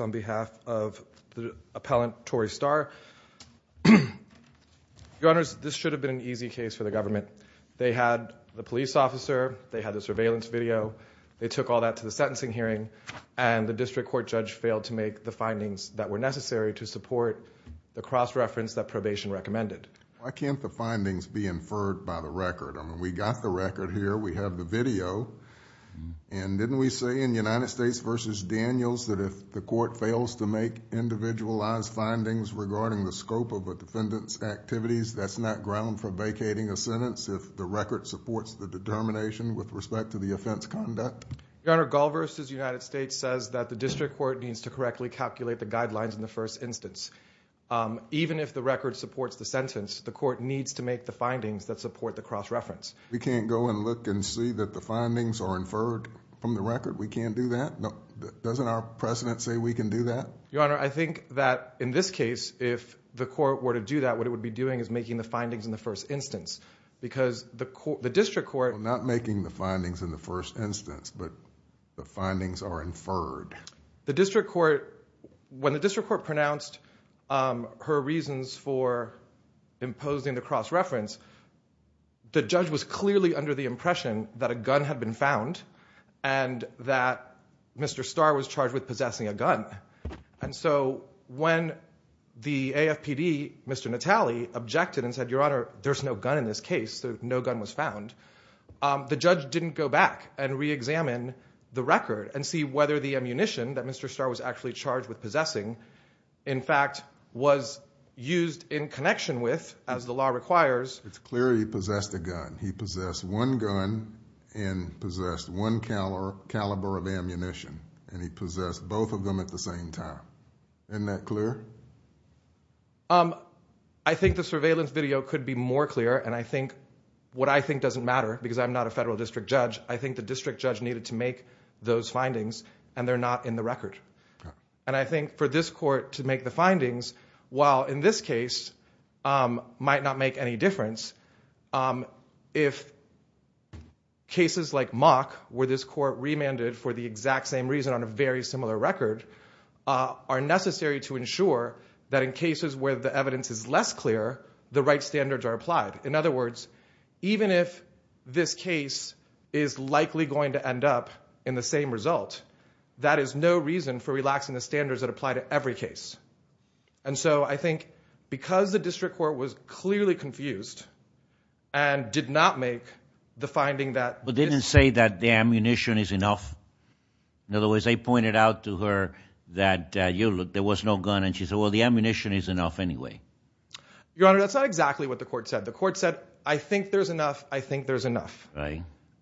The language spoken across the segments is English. on behalf of the appellant Tory Starr. They had the police officer, they had the surveillance video, that were necessary to support the cross-reference that probation recommended. Why can't the findings be inferred by the record? I mean, we got the record here, we have the video. And didn't we say in United States v. Daniels that if the court fails to make individualized findings regarding the scope of a defendant's activities, that's not ground for vacating a sentence if the record supports the determination with respect to the offense conduct? Your Honor, Gall v. United States says that the district court needs to correctly calculate the guidelines in the first instance. Even if the record supports the sentence, the court needs to make the findings that support the cross-reference. We can't go and look and see that the findings are inferred from the record? We can't do that? Doesn't our precedent say we can do that? Your Honor, I think that in this case, if the court were to do that, what it would be doing is making the findings in the first instance. Because the district court... Well, not making the findings in the first instance, but the findings are inferred. The district court... When the district court pronounced her reasons for imposing the cross-reference, the judge was clearly under the impression that a gun had been found and that Mr. Starr was charged with possessing a gun. And so when the AFPD, Mr. Natale, objected and said, Your Honor, there's no gun in this case, so no gun was found, the judge didn't go back and re-examine the record and see whether the ammunition that Mr. Starr was actually charged with possessing, in fact, was used in connection with, as the law requires... It's clear he possessed a gun. He possessed one gun and possessed one caliber of ammunition. And he possessed both of them at the same time. Isn't that clear? I think the surveillance video could be more clear, and I think what I think doesn't matter, because I'm not a federal district judge, I think the district judge needed to make those findings, and they're not in the record. And I think for this court to make the findings, while in this case might not make any difference, if cases like Mock, where this court remanded for the exact same reason on a very similar record, are necessary to ensure that in cases where the evidence is less clear, the right standards are applied. In other words, even if this case is likely going to end up in the same result, that is no reason for relaxing the standards that apply to every case. And so I think because the district court was clearly confused and did not make the finding that... But didn't say that the ammunition is enough. In other words, they pointed out to her that there was no gun, and she said, well, the ammunition is enough anyway. Your Honor, that's not exactly what the court said. The court said, I think there's enough. I think there's enough.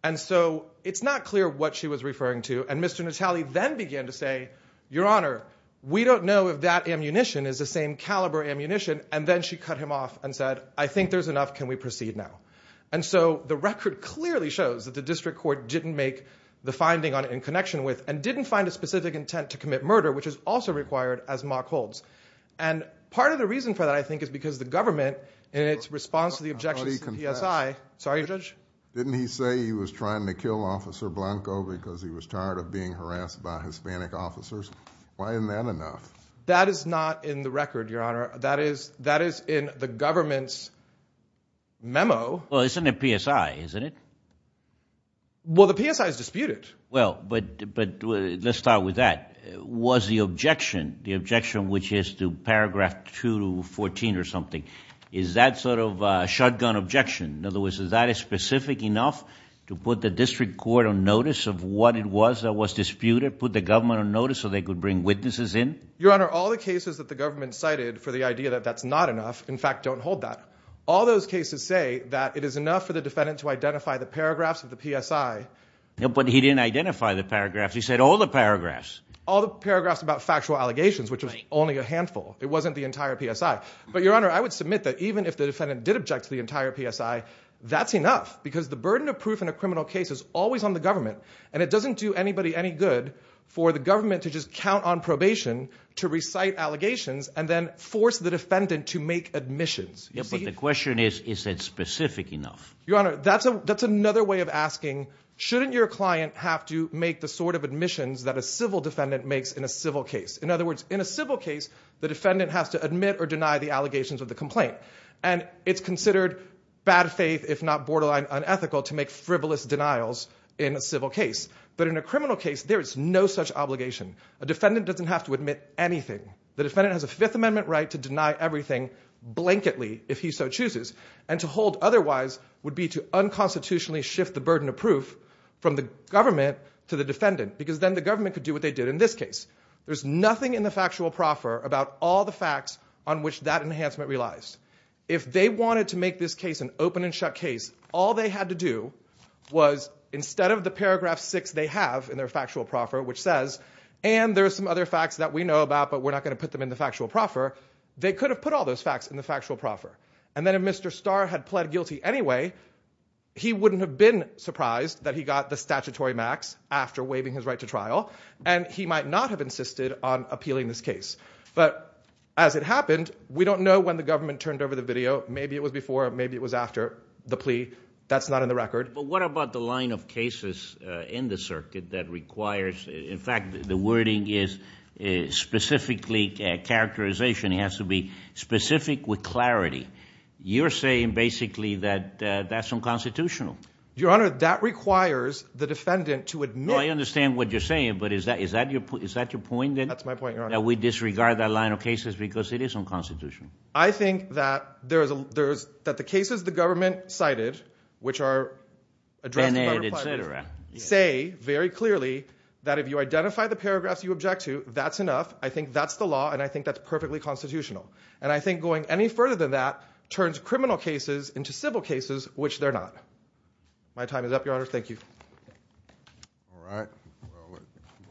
And so it's not clear what she was referring to. And Mr. Natale then began to say, Your Honor, we don't know if that ammunition is the same caliber ammunition. And then she cut him off and said, I think there's enough. Can we proceed now? And so the record clearly shows that the district court didn't make the finding on it in connection with, and didn't find a specific intent to commit murder, which is also required as Mock holds. And part of the reason for that, I think, is because the government, in its response to the objections to the PSI... I thought he confessed. Sorry, Judge? Didn't he say he was trying to kill Officer Blanco because he was tired of being harassed by Hispanic officers? Why isn't that enough? That is not in the record, Your Honor. That is in the government's memo. Well, it's in the PSI, isn't it? Well, the PSI is disputed. Well, but let's start with that. Was the objection, the objection which is to paragraph 2 to 14 or something, is that sort of a shotgun objection? In other words, is that specific enough to put the district court on notice of what it was that was disputed, put the government on notice so they could bring witnesses in? Your Honor, all the cases that the government cited for the idea that that's not enough, in fact, don't hold that. All those cases say that it is enough for the defendant to identify the paragraphs of the PSI. But he didn't identify the paragraphs. He said all the paragraphs. All the paragraphs about factual allegations, which was only a handful. It wasn't the entire PSI. But, Your Honor, I would submit that even if the defendant did object to the entire PSI, that's enough, because the burden of proof in a criminal case is always on the government, and it doesn't do anybody any good for the government to just count on probation to recite allegations and then force the defendant to make admissions. Yeah, but the question is, is it specific enough? Your Honor, that's another way of asking, shouldn't your client have to make the sort of admissions that a civil defendant makes in a civil case? In other words, in a civil case, the defendant has to admit or deny the allegations of the complaint. And it's considered bad faith, if not borderline unethical, to make frivolous denials in a civil case. But in a criminal case, there is no such obligation. A defendant doesn't have to admit anything. The defendant has a Fifth Amendment right to deny everything, blanketly, if he so chooses, and to hold otherwise would be to unconstitutionally shift the burden of proof from the government to the defendant, because then the government could do what they did in this case. There's nothing in the factual proffer about all the facts on which that enhancement relies. If they wanted to make this case an open and shut case, all they had to do was, instead of the paragraph 6 they have in their factual proffer, which says, and there are some other facts that we know about, but we're not going to put them in the factual proffer, they could have put all those facts in the factual proffer. And then if Mr. Starr had pled guilty anyway, he wouldn't have been surprised that he got the statutory max after waiving his right to trial, and he might not have insisted on appealing this case. But as it happened, we don't know when the government turned over the video. Maybe it was before, maybe it was after the plea. That's not in the record. But what about the line of cases in the circuit that requires, in fact, the wording is specifically characterization. It has to be specific with clarity. You're saying, basically, that that's unconstitutional. Your Honor, that requires the defendant to admit... No, I understand what you're saying, but is that your point? That's my point, Your Honor. That we disregard that line of cases because it is unconstitutional. I think that the cases the government cited, which are addressed by the department, say very clearly that if you identify the paragraphs you object to, that's enough, I think that's the law, and I think that's perfectly constitutional. And I think going any further than that which they're not. My time is up, Your Honor. Thank you. All right.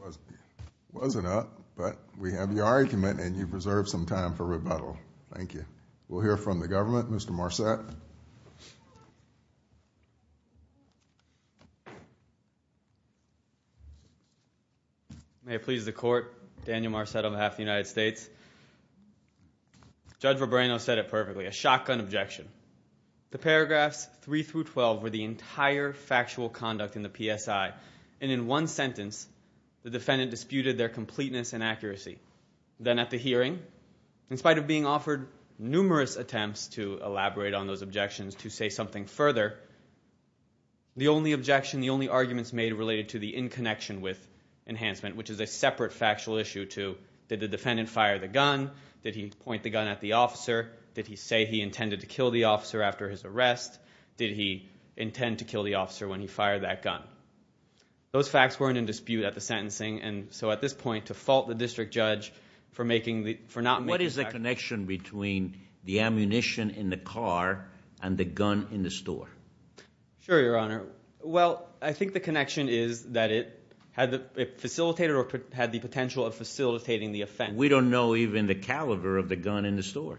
Well, it wasn't up, but we have your argument, and you've reserved some time for rebuttal. Thank you. We'll hear from the government. Mr. Marcet. May it please the Court, Daniel Marcet on behalf of the United States. Judge Verbrano said it perfectly, a shotgun objection. The paragraphs 3 through 12 were the entire factual conduct in the PSI, and in one sentence, the defendant disputed their completeness and accuracy. Then at the hearing, in spite of being offered numerous attempts to elaborate on those objections to say something further, the only objection, the only arguments made related to the in connection with enhancement, which is a separate factual issue to did the defendant fire the gun? Did he point the gun at the officer? Did he say he intended to kill the officer after his arrest? Did he intend to kill the officer when he fired that gun? Those facts weren't in dispute at the sentencing, and so at this point to fault the district judge for not making the fact... What is the connection between the ammunition in the car and the gun in the store? Sure, Your Honor. Well, I think the connection is that it facilitated or had the potential of facilitating the offense. We don't know even the caliber of the gun in the store.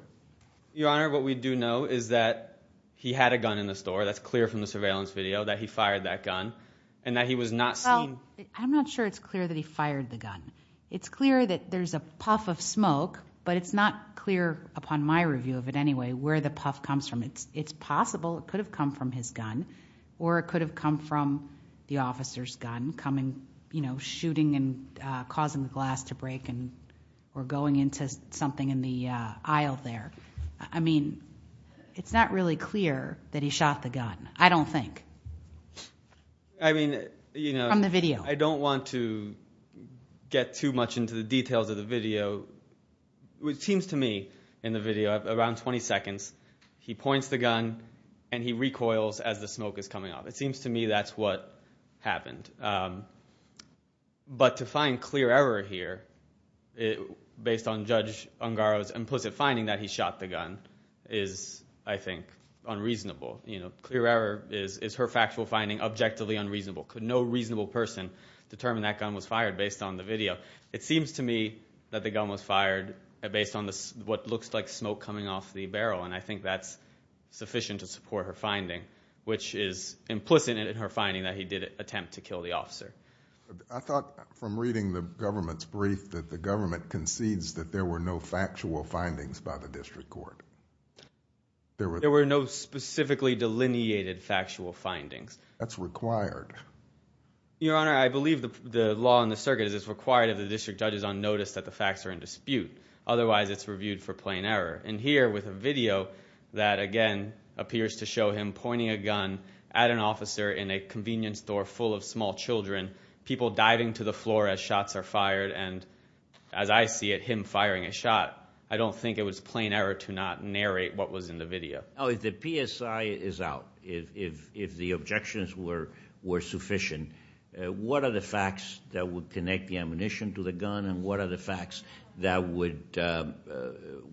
Your Honor, what we do know is that he had a gun in the store. That's clear from the surveillance video that he fired that gun and that he was not seen... Well, I'm not sure it's clear that he fired the gun. It's clear that there's a puff of smoke, but it's not clear, upon my review of it anyway, where the puff comes from. or it could have come from the officer's gun shooting and causing the glass to break or going into something in the aisle there. I mean, it's not really clear that he shot the gun, I don't think, from the video. I don't want to get too much into the details of the video. It seems to me in the video, around 20 seconds, he points the gun and he recoils as the smoke is coming off. It seems to me that's what happened. But to find clear error here, based on Judge Ungaro's implicit finding that he shot the gun, is, I think, unreasonable. Clear error is her factual finding objectively unreasonable. Could no reasonable person determine that gun was fired based on the video? It seems to me that the gun was fired based on what looks like smoke coming off the barrel, and I think that's sufficient to support her finding, which is implicit in her finding that he did attempt to kill the officer. I thought from reading the government's brief that the government concedes that there were no factual findings by the district court. There were no specifically delineated factual findings. That's required. Your Honor, I believe the law in the circuit is it's required of the district judges on notice that the facts are in dispute. Otherwise, it's reviewed for plain error. And here, with a video that, again, appears to show him pointing a gun at an officer in a convenience store full of small children, people diving to the floor as shots are fired, and as I see it, him firing a shot, I don't think it was plain error to not narrate what was in the video. If the PSI is out, if the objections were sufficient, what are the facts that would connect the ammunition to the gun, and what are the facts that would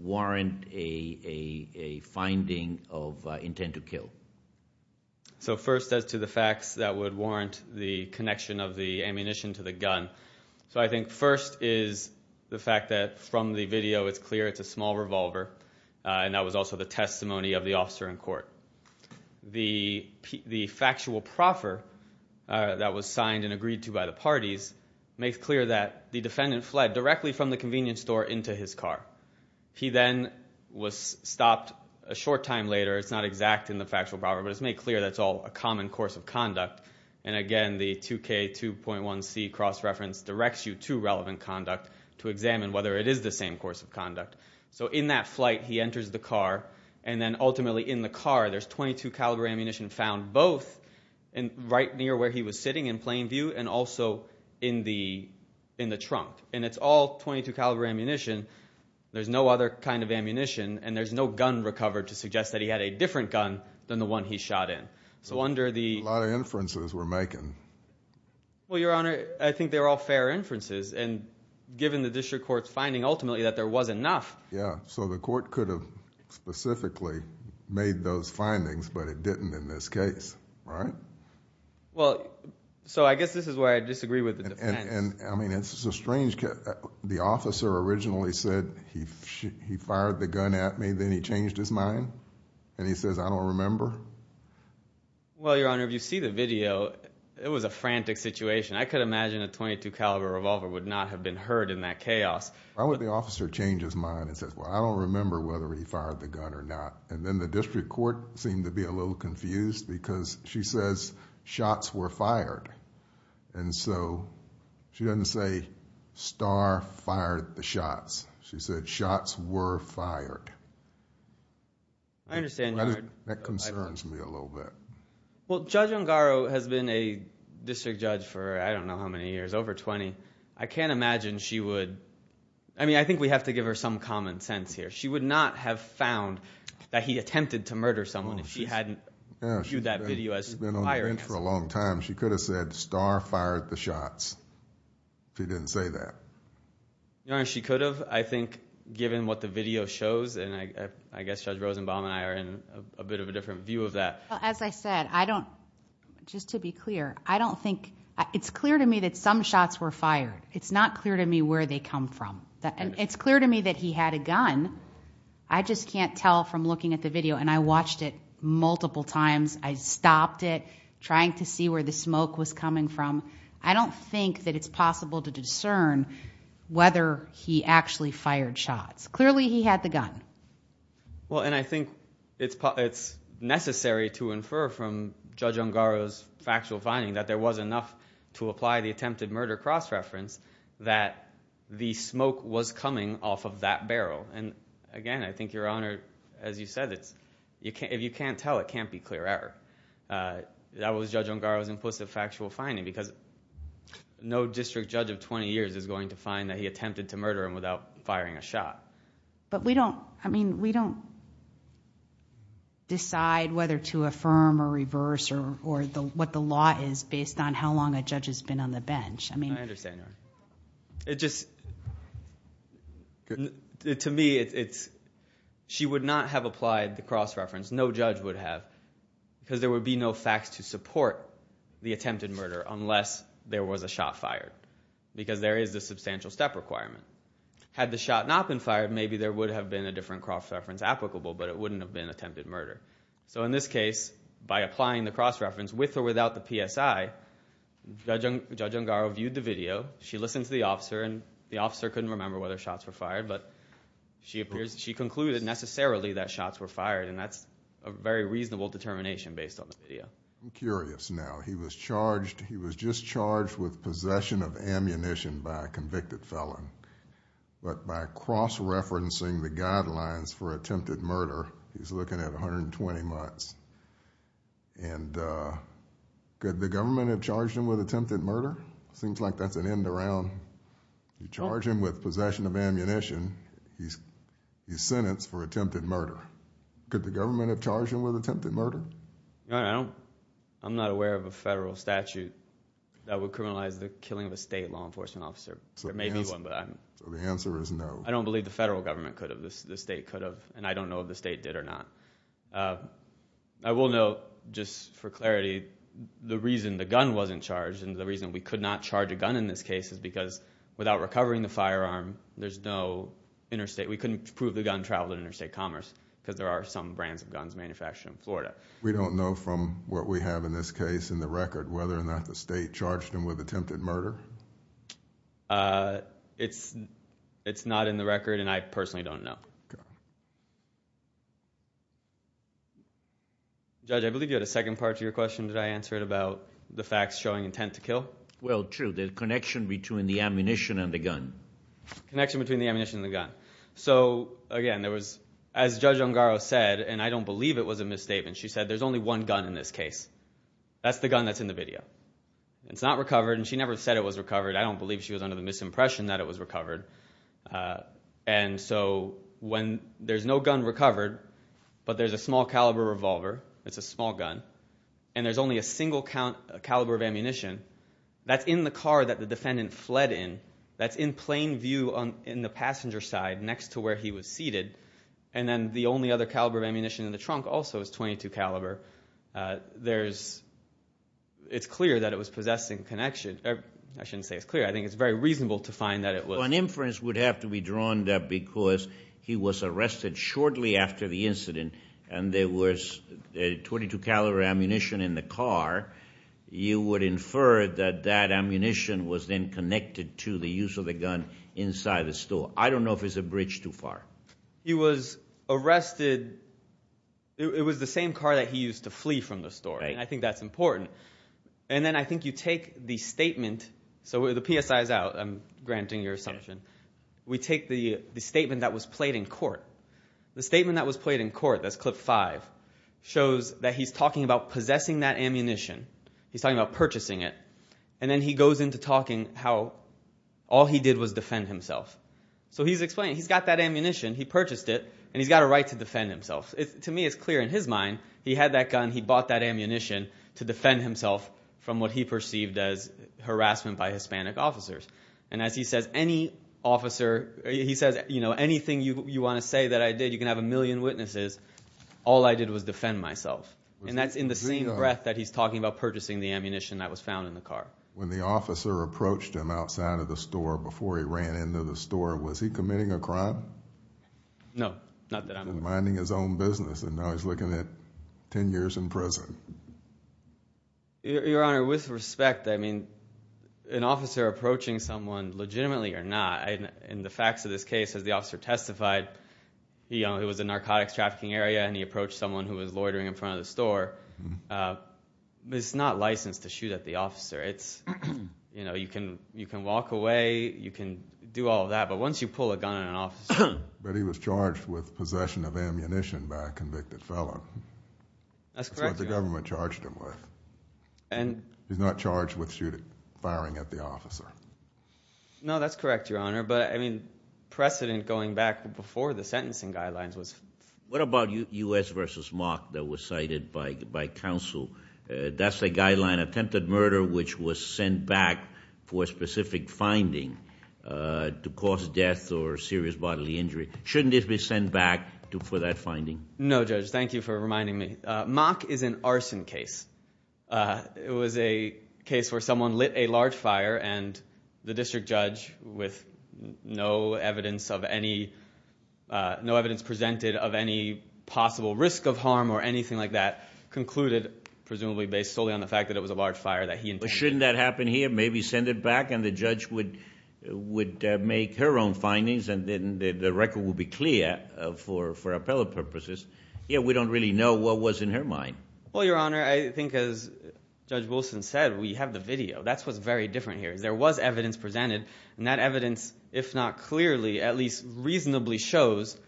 warrant a finding of intent to kill? So first, as to the facts that would warrant the connection of the ammunition to the gun, so I think first is the fact that from the video, it's clear it's a small revolver, and that was also the testimony of the officer in court. The factual proffer that was signed and agreed to by the parties makes clear that the defendant fled directly from the convenience store into his car. He then was stopped a short time later. It's not exact in the factual proffer, but it's made clear that's all a common course of conduct, and again, the 2K2.1C cross-reference directs you to relevant conduct to examine whether it is the same course of conduct. So in that flight, he enters the car, and then ultimately in the car, there's .22-caliber ammunition found both right near where he was sitting in plain view and also in the trunk, and it's all .22-caliber ammunition. There's no other kind of ammunition, and there's no gun recovered to suggest that he had a different gun than the one he shot in. So under the... A lot of inferences we're making. Well, Your Honor, I think they're all fair inferences, and given the district court's finding ultimately that there wasn't enough... Yeah, so the court could have specifically made those findings, but it didn't in this case, right? Well, so I guess this is where I disagree with the defense. And, I mean, it's a strange case. The officer originally said, he fired the gun at me, then he changed his mind, and he says, I don't remember. Well, Your Honor, if you see the video, it was a frantic situation. I could imagine a .22-caliber revolver would not have been hurt in that chaos. Why would the officer change his mind and say, well, I don't remember whether he fired the gun or not? And then the district court seemed to be a little confused because she says shots were fired. And so she doesn't say, star fired the shots. She said shots were fired. I understand, Your Honor. That concerns me a little bit. Well, Judge Ungaro has been a district judge for I don't know how many years, over 20. I can't imagine she would... I mean, I think we have to give her some common sense here. She would not have found that he attempted to murder someone if she hadn't viewed that video as firing. She's been on the bench for a long time. She could have said star fired the shots if he didn't say that. Your Honor, she could have, I think, given what the video shows, and I guess Judge Rosenbaum and I are in a bit of a different view of that. As I said, I don't... Just to be clear, I don't think... It's clear to me that some shots were fired. It's not clear to me where they come from. It's clear to me that he had a gun. I just can't tell from looking at the video, and I watched it multiple times. I stopped it, trying to see where the smoke was coming from. I don't think that it's possible to discern whether he actually fired shots. Clearly he had the gun. Well, and I think it's necessary to infer from Judge Ungaro's factual finding that there was enough to apply the attempted murder cross-reference that the smoke was coming off of that barrel. And again, I think, Your Honor, as you said, if you can't tell, it can't be clear error. That was Judge Ungaro's implicit factual finding, because no district judge of 20 years is going to find that he attempted to murder him without firing a shot. But we don't... I mean, we don't decide whether to affirm or reverse or what the law is based on how long a judge has been on the bench. I understand, Your Honor. It just... To me, it's... She would not have applied the cross-reference. No judge would have, because there would be no facts to support the attempted murder unless there was a shot fired, because there is the substantial step requirement. Had the shot not been fired, maybe there would have been a different cross-reference applicable, but it wouldn't have been attempted murder. So in this case, by applying the cross-reference, with or without the PSI, Judge Ungaro viewed the video, she listened to the officer, and the officer couldn't remember whether shots were fired, but she concluded necessarily that shots were fired, and that's a very reasonable determination based on the video. I'm curious now. He was charged... He was just charged with possession of ammunition by a convicted felon, but by cross-referencing the guidelines for attempted murder, he's looking at 120 months, and could the government have charged him with attempted murder? Seems like that's an end-around. You charge him with possession of ammunition, he's sentenced for attempted murder. Could the government have charged him with attempted murder? I'm not aware of a federal statute that would criminalize the killing of a state law enforcement officer. There may be one, but I don't... So the answer is no. I don't believe the federal government could have, the state could have, and I don't know if the state did or not. I will note, just for clarity, the reason the gun wasn't charged, and the reason we could not charge a gun in this case, is because without recovering the firearm, there's no interstate... We don't know from what we have in this case in the record whether or not the state charged him with attempted murder? It's not in the record, and I personally don't know. Judge, I believe you had a second part to your question. Did I answer it about the facts showing intent to kill? Well, true. The connection between the ammunition and the gun. Connection between the ammunition and the gun. So, again, there was... In her statement, she said, there's only one gun in this case. That's the gun that's in the video. It's not recovered, and she never said it was recovered. I don't believe she was under the misimpression that it was recovered. And so when there's no gun recovered, but there's a small caliber revolver, it's a small gun, and there's only a single caliber of ammunition, that's in the car that the defendant fled in, that's in plain view in the passenger side next to where he was seated, and then the only other caliber of ammunition in the trunk also is .22 caliber. There's... It's clear that it was possessing connection. I shouldn't say it's clear. I think it's very reasonable to find that it was. An inference would have to be drawn that because he was arrested shortly after the incident, and there was .22 caliber ammunition in the car, you would infer that that ammunition was then connected to the use of the gun inside the store. So I don't know if it's a bridge too far. He was arrested... It was the same car that he used to flee from the store, and I think that's important. And then I think you take the statement... So the PSI is out. I'm granting your assumption. We take the statement that was played in court. The statement that was played in court, that's clip five, shows that he's talking about possessing that ammunition. He's talking about purchasing it. And then he goes into talking about how all he did was defend himself. So he's explaining. He's got that ammunition. He purchased it, and he's got a right to defend himself. To me, it's clear. In his mind, he had that gun. He bought that ammunition to defend himself from what he perceived as harassment by Hispanic officers. And as he says, anything you want to say that I did, you can have a million witnesses, all I did was defend myself. And that's in the same breath that he's talking about purchasing the ammunition that was found in the car. When the officer approached him outside of the store before he ran into the store, was he committing a crime? No, not that I'm aware of. He was minding his own business, and now he's looking at 10 years in prison. Your Honor, with respect, an officer approaching someone legitimately or not, in the facts of this case, as the officer testified, it was a narcotics trafficking area, and he approached someone who was loitering in front of the store. It's not license to shoot at the officer. You can walk away, you can do all of that, but once you pull a gun on an officer... But he was charged with possession of ammunition by a convicted fellow. That's correct, Your Honor. That's what the government charged him with. He's not charged with firing at the officer. No, that's correct, Your Honor. But precedent going back before the sentencing guidelines was... What about U.S. v. Mock that was cited by counsel? That's a guideline attempted murder which was sent back for a specific finding to cause death or serious bodily injury. Shouldn't it be sent back for that finding? No, Judge, thank you for reminding me. Mock is an arson case. It was a case where someone lit a large fire, and the district judge, with no evidence of any... possible risk of harm or anything like that, concluded, presumably based solely on the fact that it was a large fire... Shouldn't that happen here? Maybe send it back and the judge would make her own findings and the record would be clear for appellate purposes. We don't really know what was in her mind. Well, Your Honor, I think as Judge Wilson said, we have the video. That's what's very different here. There was evidence presented and that evidence, if not clearly, at least reasonably shows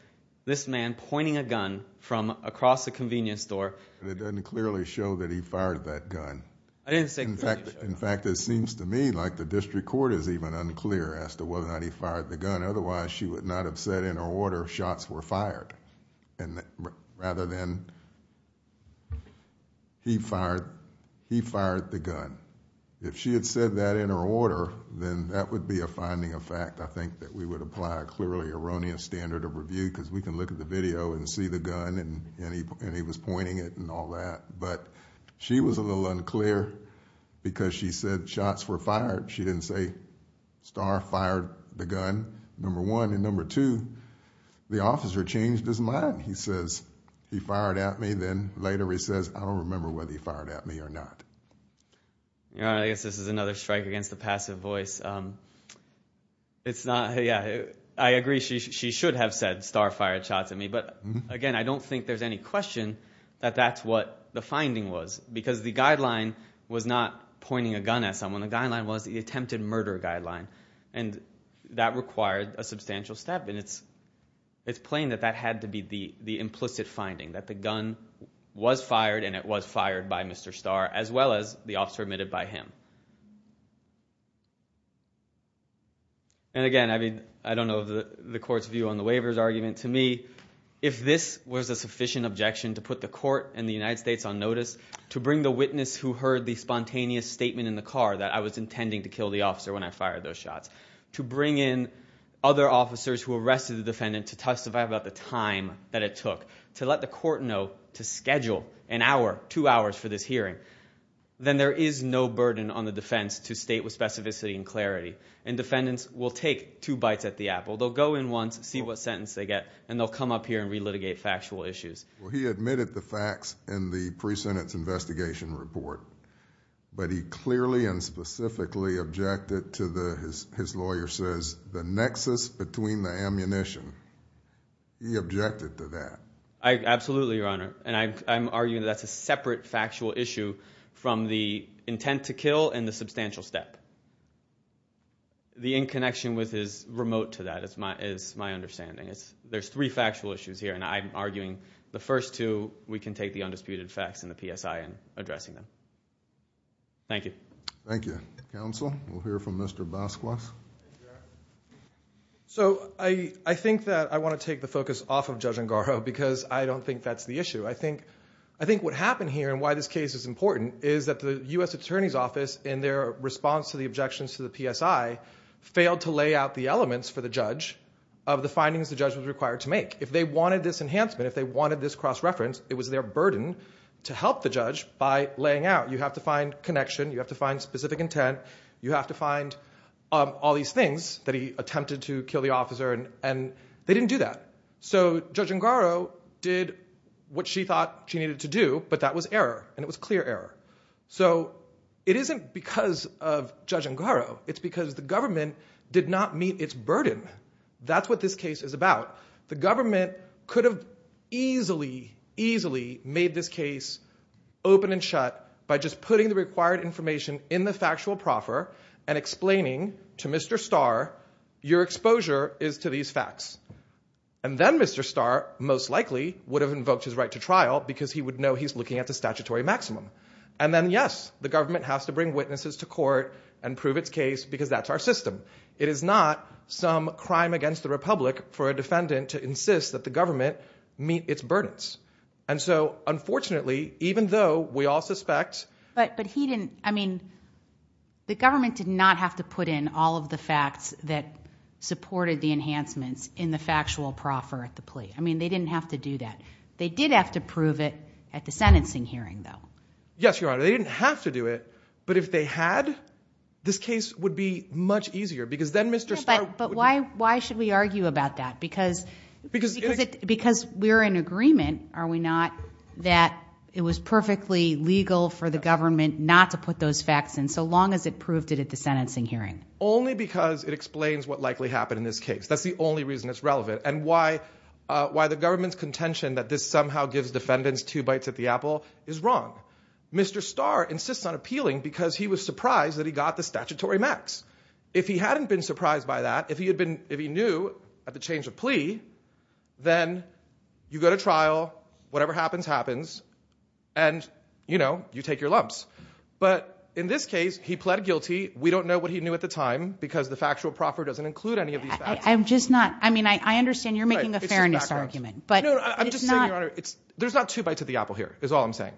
this man pointing a gun from across the convenience store. It doesn't clearly show that he fired that gun. In fact, it seems to me like the district court is even unclear as to whether or not he fired the gun. Otherwise, she would not have said in her order, shots were fired. Rather than he fired the gun. If she had said that in her order, then that would be a finding of fact. I think that we would apply a clearly erroneous standard of review because we can look at the video and see the gun and he was pointing it and all that. But she was a little unclear because she said shots were fired. She didn't say Starr fired the gun number one. And number two, the officer changed his mind. He says, he fired at me then later he says, I don't remember whether he fired at me or not. Your Honor, I guess this is another strike against the passive voice. It's not yeah, I agree she should have said Starr fired shots at me. Again, I don't think there's any question that that's what the finding was. Because the guideline was not pointing a gun at someone. The guideline was the attempted murder guideline. That required a substantial step. It's plain that that had to be the implicit finding. That the gun was fired and it was fired by Mr. Starr as well as the officer admitted by him. And again, I don't know the court's view on the waiver's argument. To me, if this was a sufficient objection to put the court and the United States on notice to bring the witness who heard the spontaneous statement in the car that I was intending to kill the officer when I fired those shots to bring in other officers who arrested the defendant to testify about the time that it took to let the court know to schedule an hour, two hours for this hearing then there is no burden on the defense to state with specificity and clarity. And defendants will take two bites at the apple. They'll go in once see what sentence they get and they'll come up here and re-litigate factual issues. He admitted the facts in the pre-sentence investigation report but he clearly and specifically objected to the his lawyer says, the nexus between the ammunition. He objected to that. Absolutely, your honor. And I'm arguing that's a separate factual issue from the intent to kill and the substantial step. The in-connection with his remote to that is my understanding. There's three factual issues here and I'm arguing the first two we can take the undisputed facts in the PSI and addressing them. Thank you. Thank you. Counsel, we'll hear from Mr. Bosquos. So, I think that I want to take the focus off of Judge Engarro because I don't think that's the issue. I think what happened here and why this case is important is that the U.S. Attorney's Office in their response to the objections to the PSI failed to lay out the elements for the judge of the findings the judge was required to make. If they wanted this enhancement, if they wanted this cross-reference, it was their burden to help the judge by laying out. You have to find connection, you have to find specific intent, you have to find all these things that he attempted to kill the officer and they didn't do that. So, Judge Engarro did what she thought she needed to do but that was error and it was clear error. So, it isn't because of Judge Engarro, it's because the government did not meet its burden. That's what this case is about. The government could have easily, easily made this case open and shut by just putting the required information in the factual proffer and explaining to Mr. Starr your exposure is to these facts. And then Mr. Starr, most likely, would have invoked his right to trial because he would know he's looking at the statutory maximum. And then, yes, the government has to bring witnesses to court and prove its case because that's our system. It is not some crime against the Republic for a defendant to insist that the government meet its burdens. And so, unfortunately, even though we all suspect... I mean, the government did not have to put in all of the facts that supported the enhancements in the factual proffer at the plea. I mean, they didn't have to do that. They did have to prove it at the sentencing hearing though. Yes, Your Honor. They didn't have to do it, but if they had, this case would be much easier because then Mr. Starr... But why should we argue about that? Because we're in agreement, are we not, that it was perfectly legal for the government not to put those facts in so long as it proved it at the sentencing hearing. Only because it explains what likely happened in this case. That's the only reason it's relevant. And why the government's contention that this somehow gives defendants two bites at the apple is wrong. Mr. Starr insists on appealing because he was surprised that he got the statutory max. If he hadn't been surprised by that, if he knew at the change of plea, then you go to trial, whatever happens happens, and, you know, you take your lumps. But in this case, he pled guilty. We don't know what he pled guilty to. I understand you're making a fairness argument. I'm just saying, Your Honor, there's not two bites at the apple here, is all I'm saying.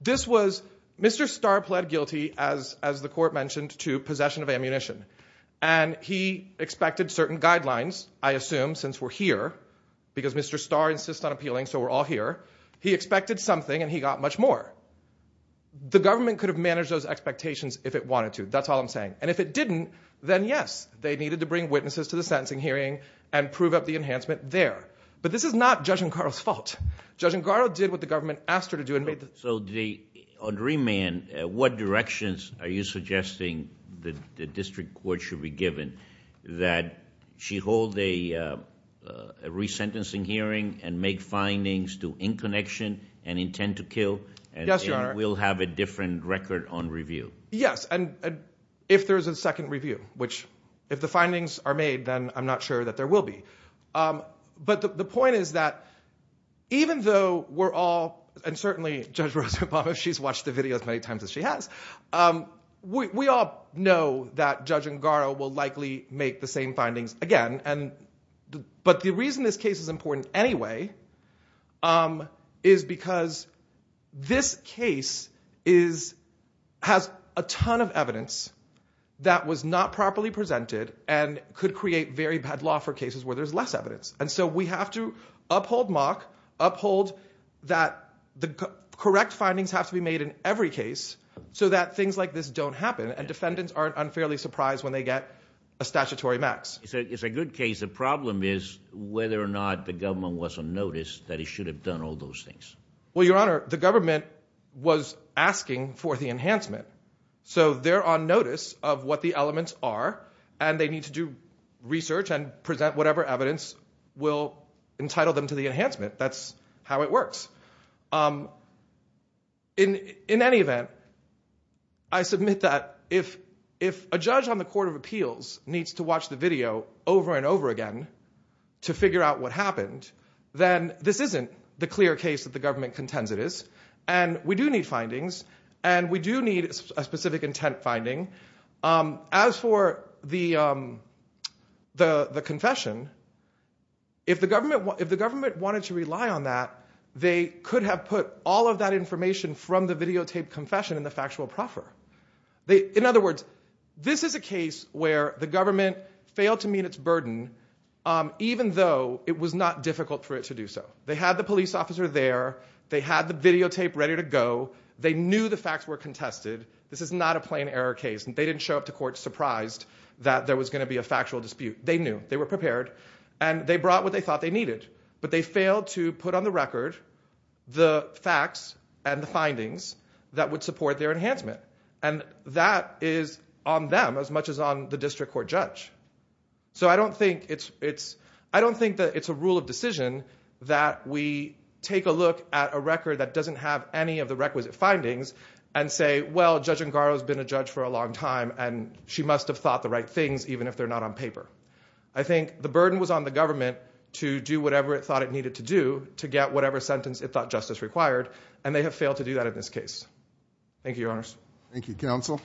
This was, Mr. Starr pled guilty, as the court mentioned, to possession of ammunition. And he expected certain guidelines, I assume, since we're here, because Mr. Starr insists on appealing, so we're all here. He expected something and he got much more. The government could have managed those expectations if it wanted to, that's all I'm saying. And if it didn't, then, yes, they needed to bring witnesses to the sentencing hearing and prove up the enhancement there. But this is not Judge Incaro's fault. Judge Incaro did what the government asked her to do. So, on remand, what directions are you suggesting the district court should be given that she hold a resentencing hearing and make findings to in connection and intend to kill and will have a different record on review? Yes, and if there's a second review, which, if the findings are made, then I'm not sure that there will be. But the point is that, even though we're all, and certainly Judge Rosenbaum, she's watched the video as many times as she has, we all know that Judge Incaro will likely make the same findings again. But the reason this case is important anyway is because this case is, has a ton of evidence that was not properly presented and could create very bad law for cases where there's less evidence. And so we have to uphold mock, uphold that the correct findings have to be made in every case so that things like this don't happen and defendants aren't unfairly surprised when they get a statutory max. It's a good case. The problem is whether or not the government was on notice that it should have done all those things. Well, Your Honor, the government was asking for the enhancement. So they're on notice of what the elements are, and they need to do research and present whatever evidence will entitle them to the enhancement. That's how it works. In any event, I submit that if a judge on the Court of Appeals needs to watch the video over and over again to figure out what happened, then this isn't the clear case that the government contends it is. And we do need findings, and we do need a specific intent finding. As for the confession, if the government wanted to rely on that, they could have put all of that information from the videotaped confession in the factual proffer. In other words, this is a case where the government failed to meet its burden, even though it was not difficult for it to do so. They had the police officer there. They had the videotape ready to go. They knew the facts were contested. This is not a plain error case. They didn't show up to court surprised that there was going to be a factual dispute. They knew. They were prepared. And they brought what they thought they needed. But they failed to put on the record the facts and the findings that would support their enhancement. And that is on them as much as on the district court judge. So I don't think that it's a rule of decision that we take a look at a record that doesn't have any of the requisite findings and say, well, Judge Angaro's been a judge for a long time and she must have thought the right things even if they're not on paper. I think the burden was on the government to do whatever it thought it needed to do to get whatever sentence it thought justice required. And they have failed to do that in this case. Thank you, Your Honors. Thank you, Counsel.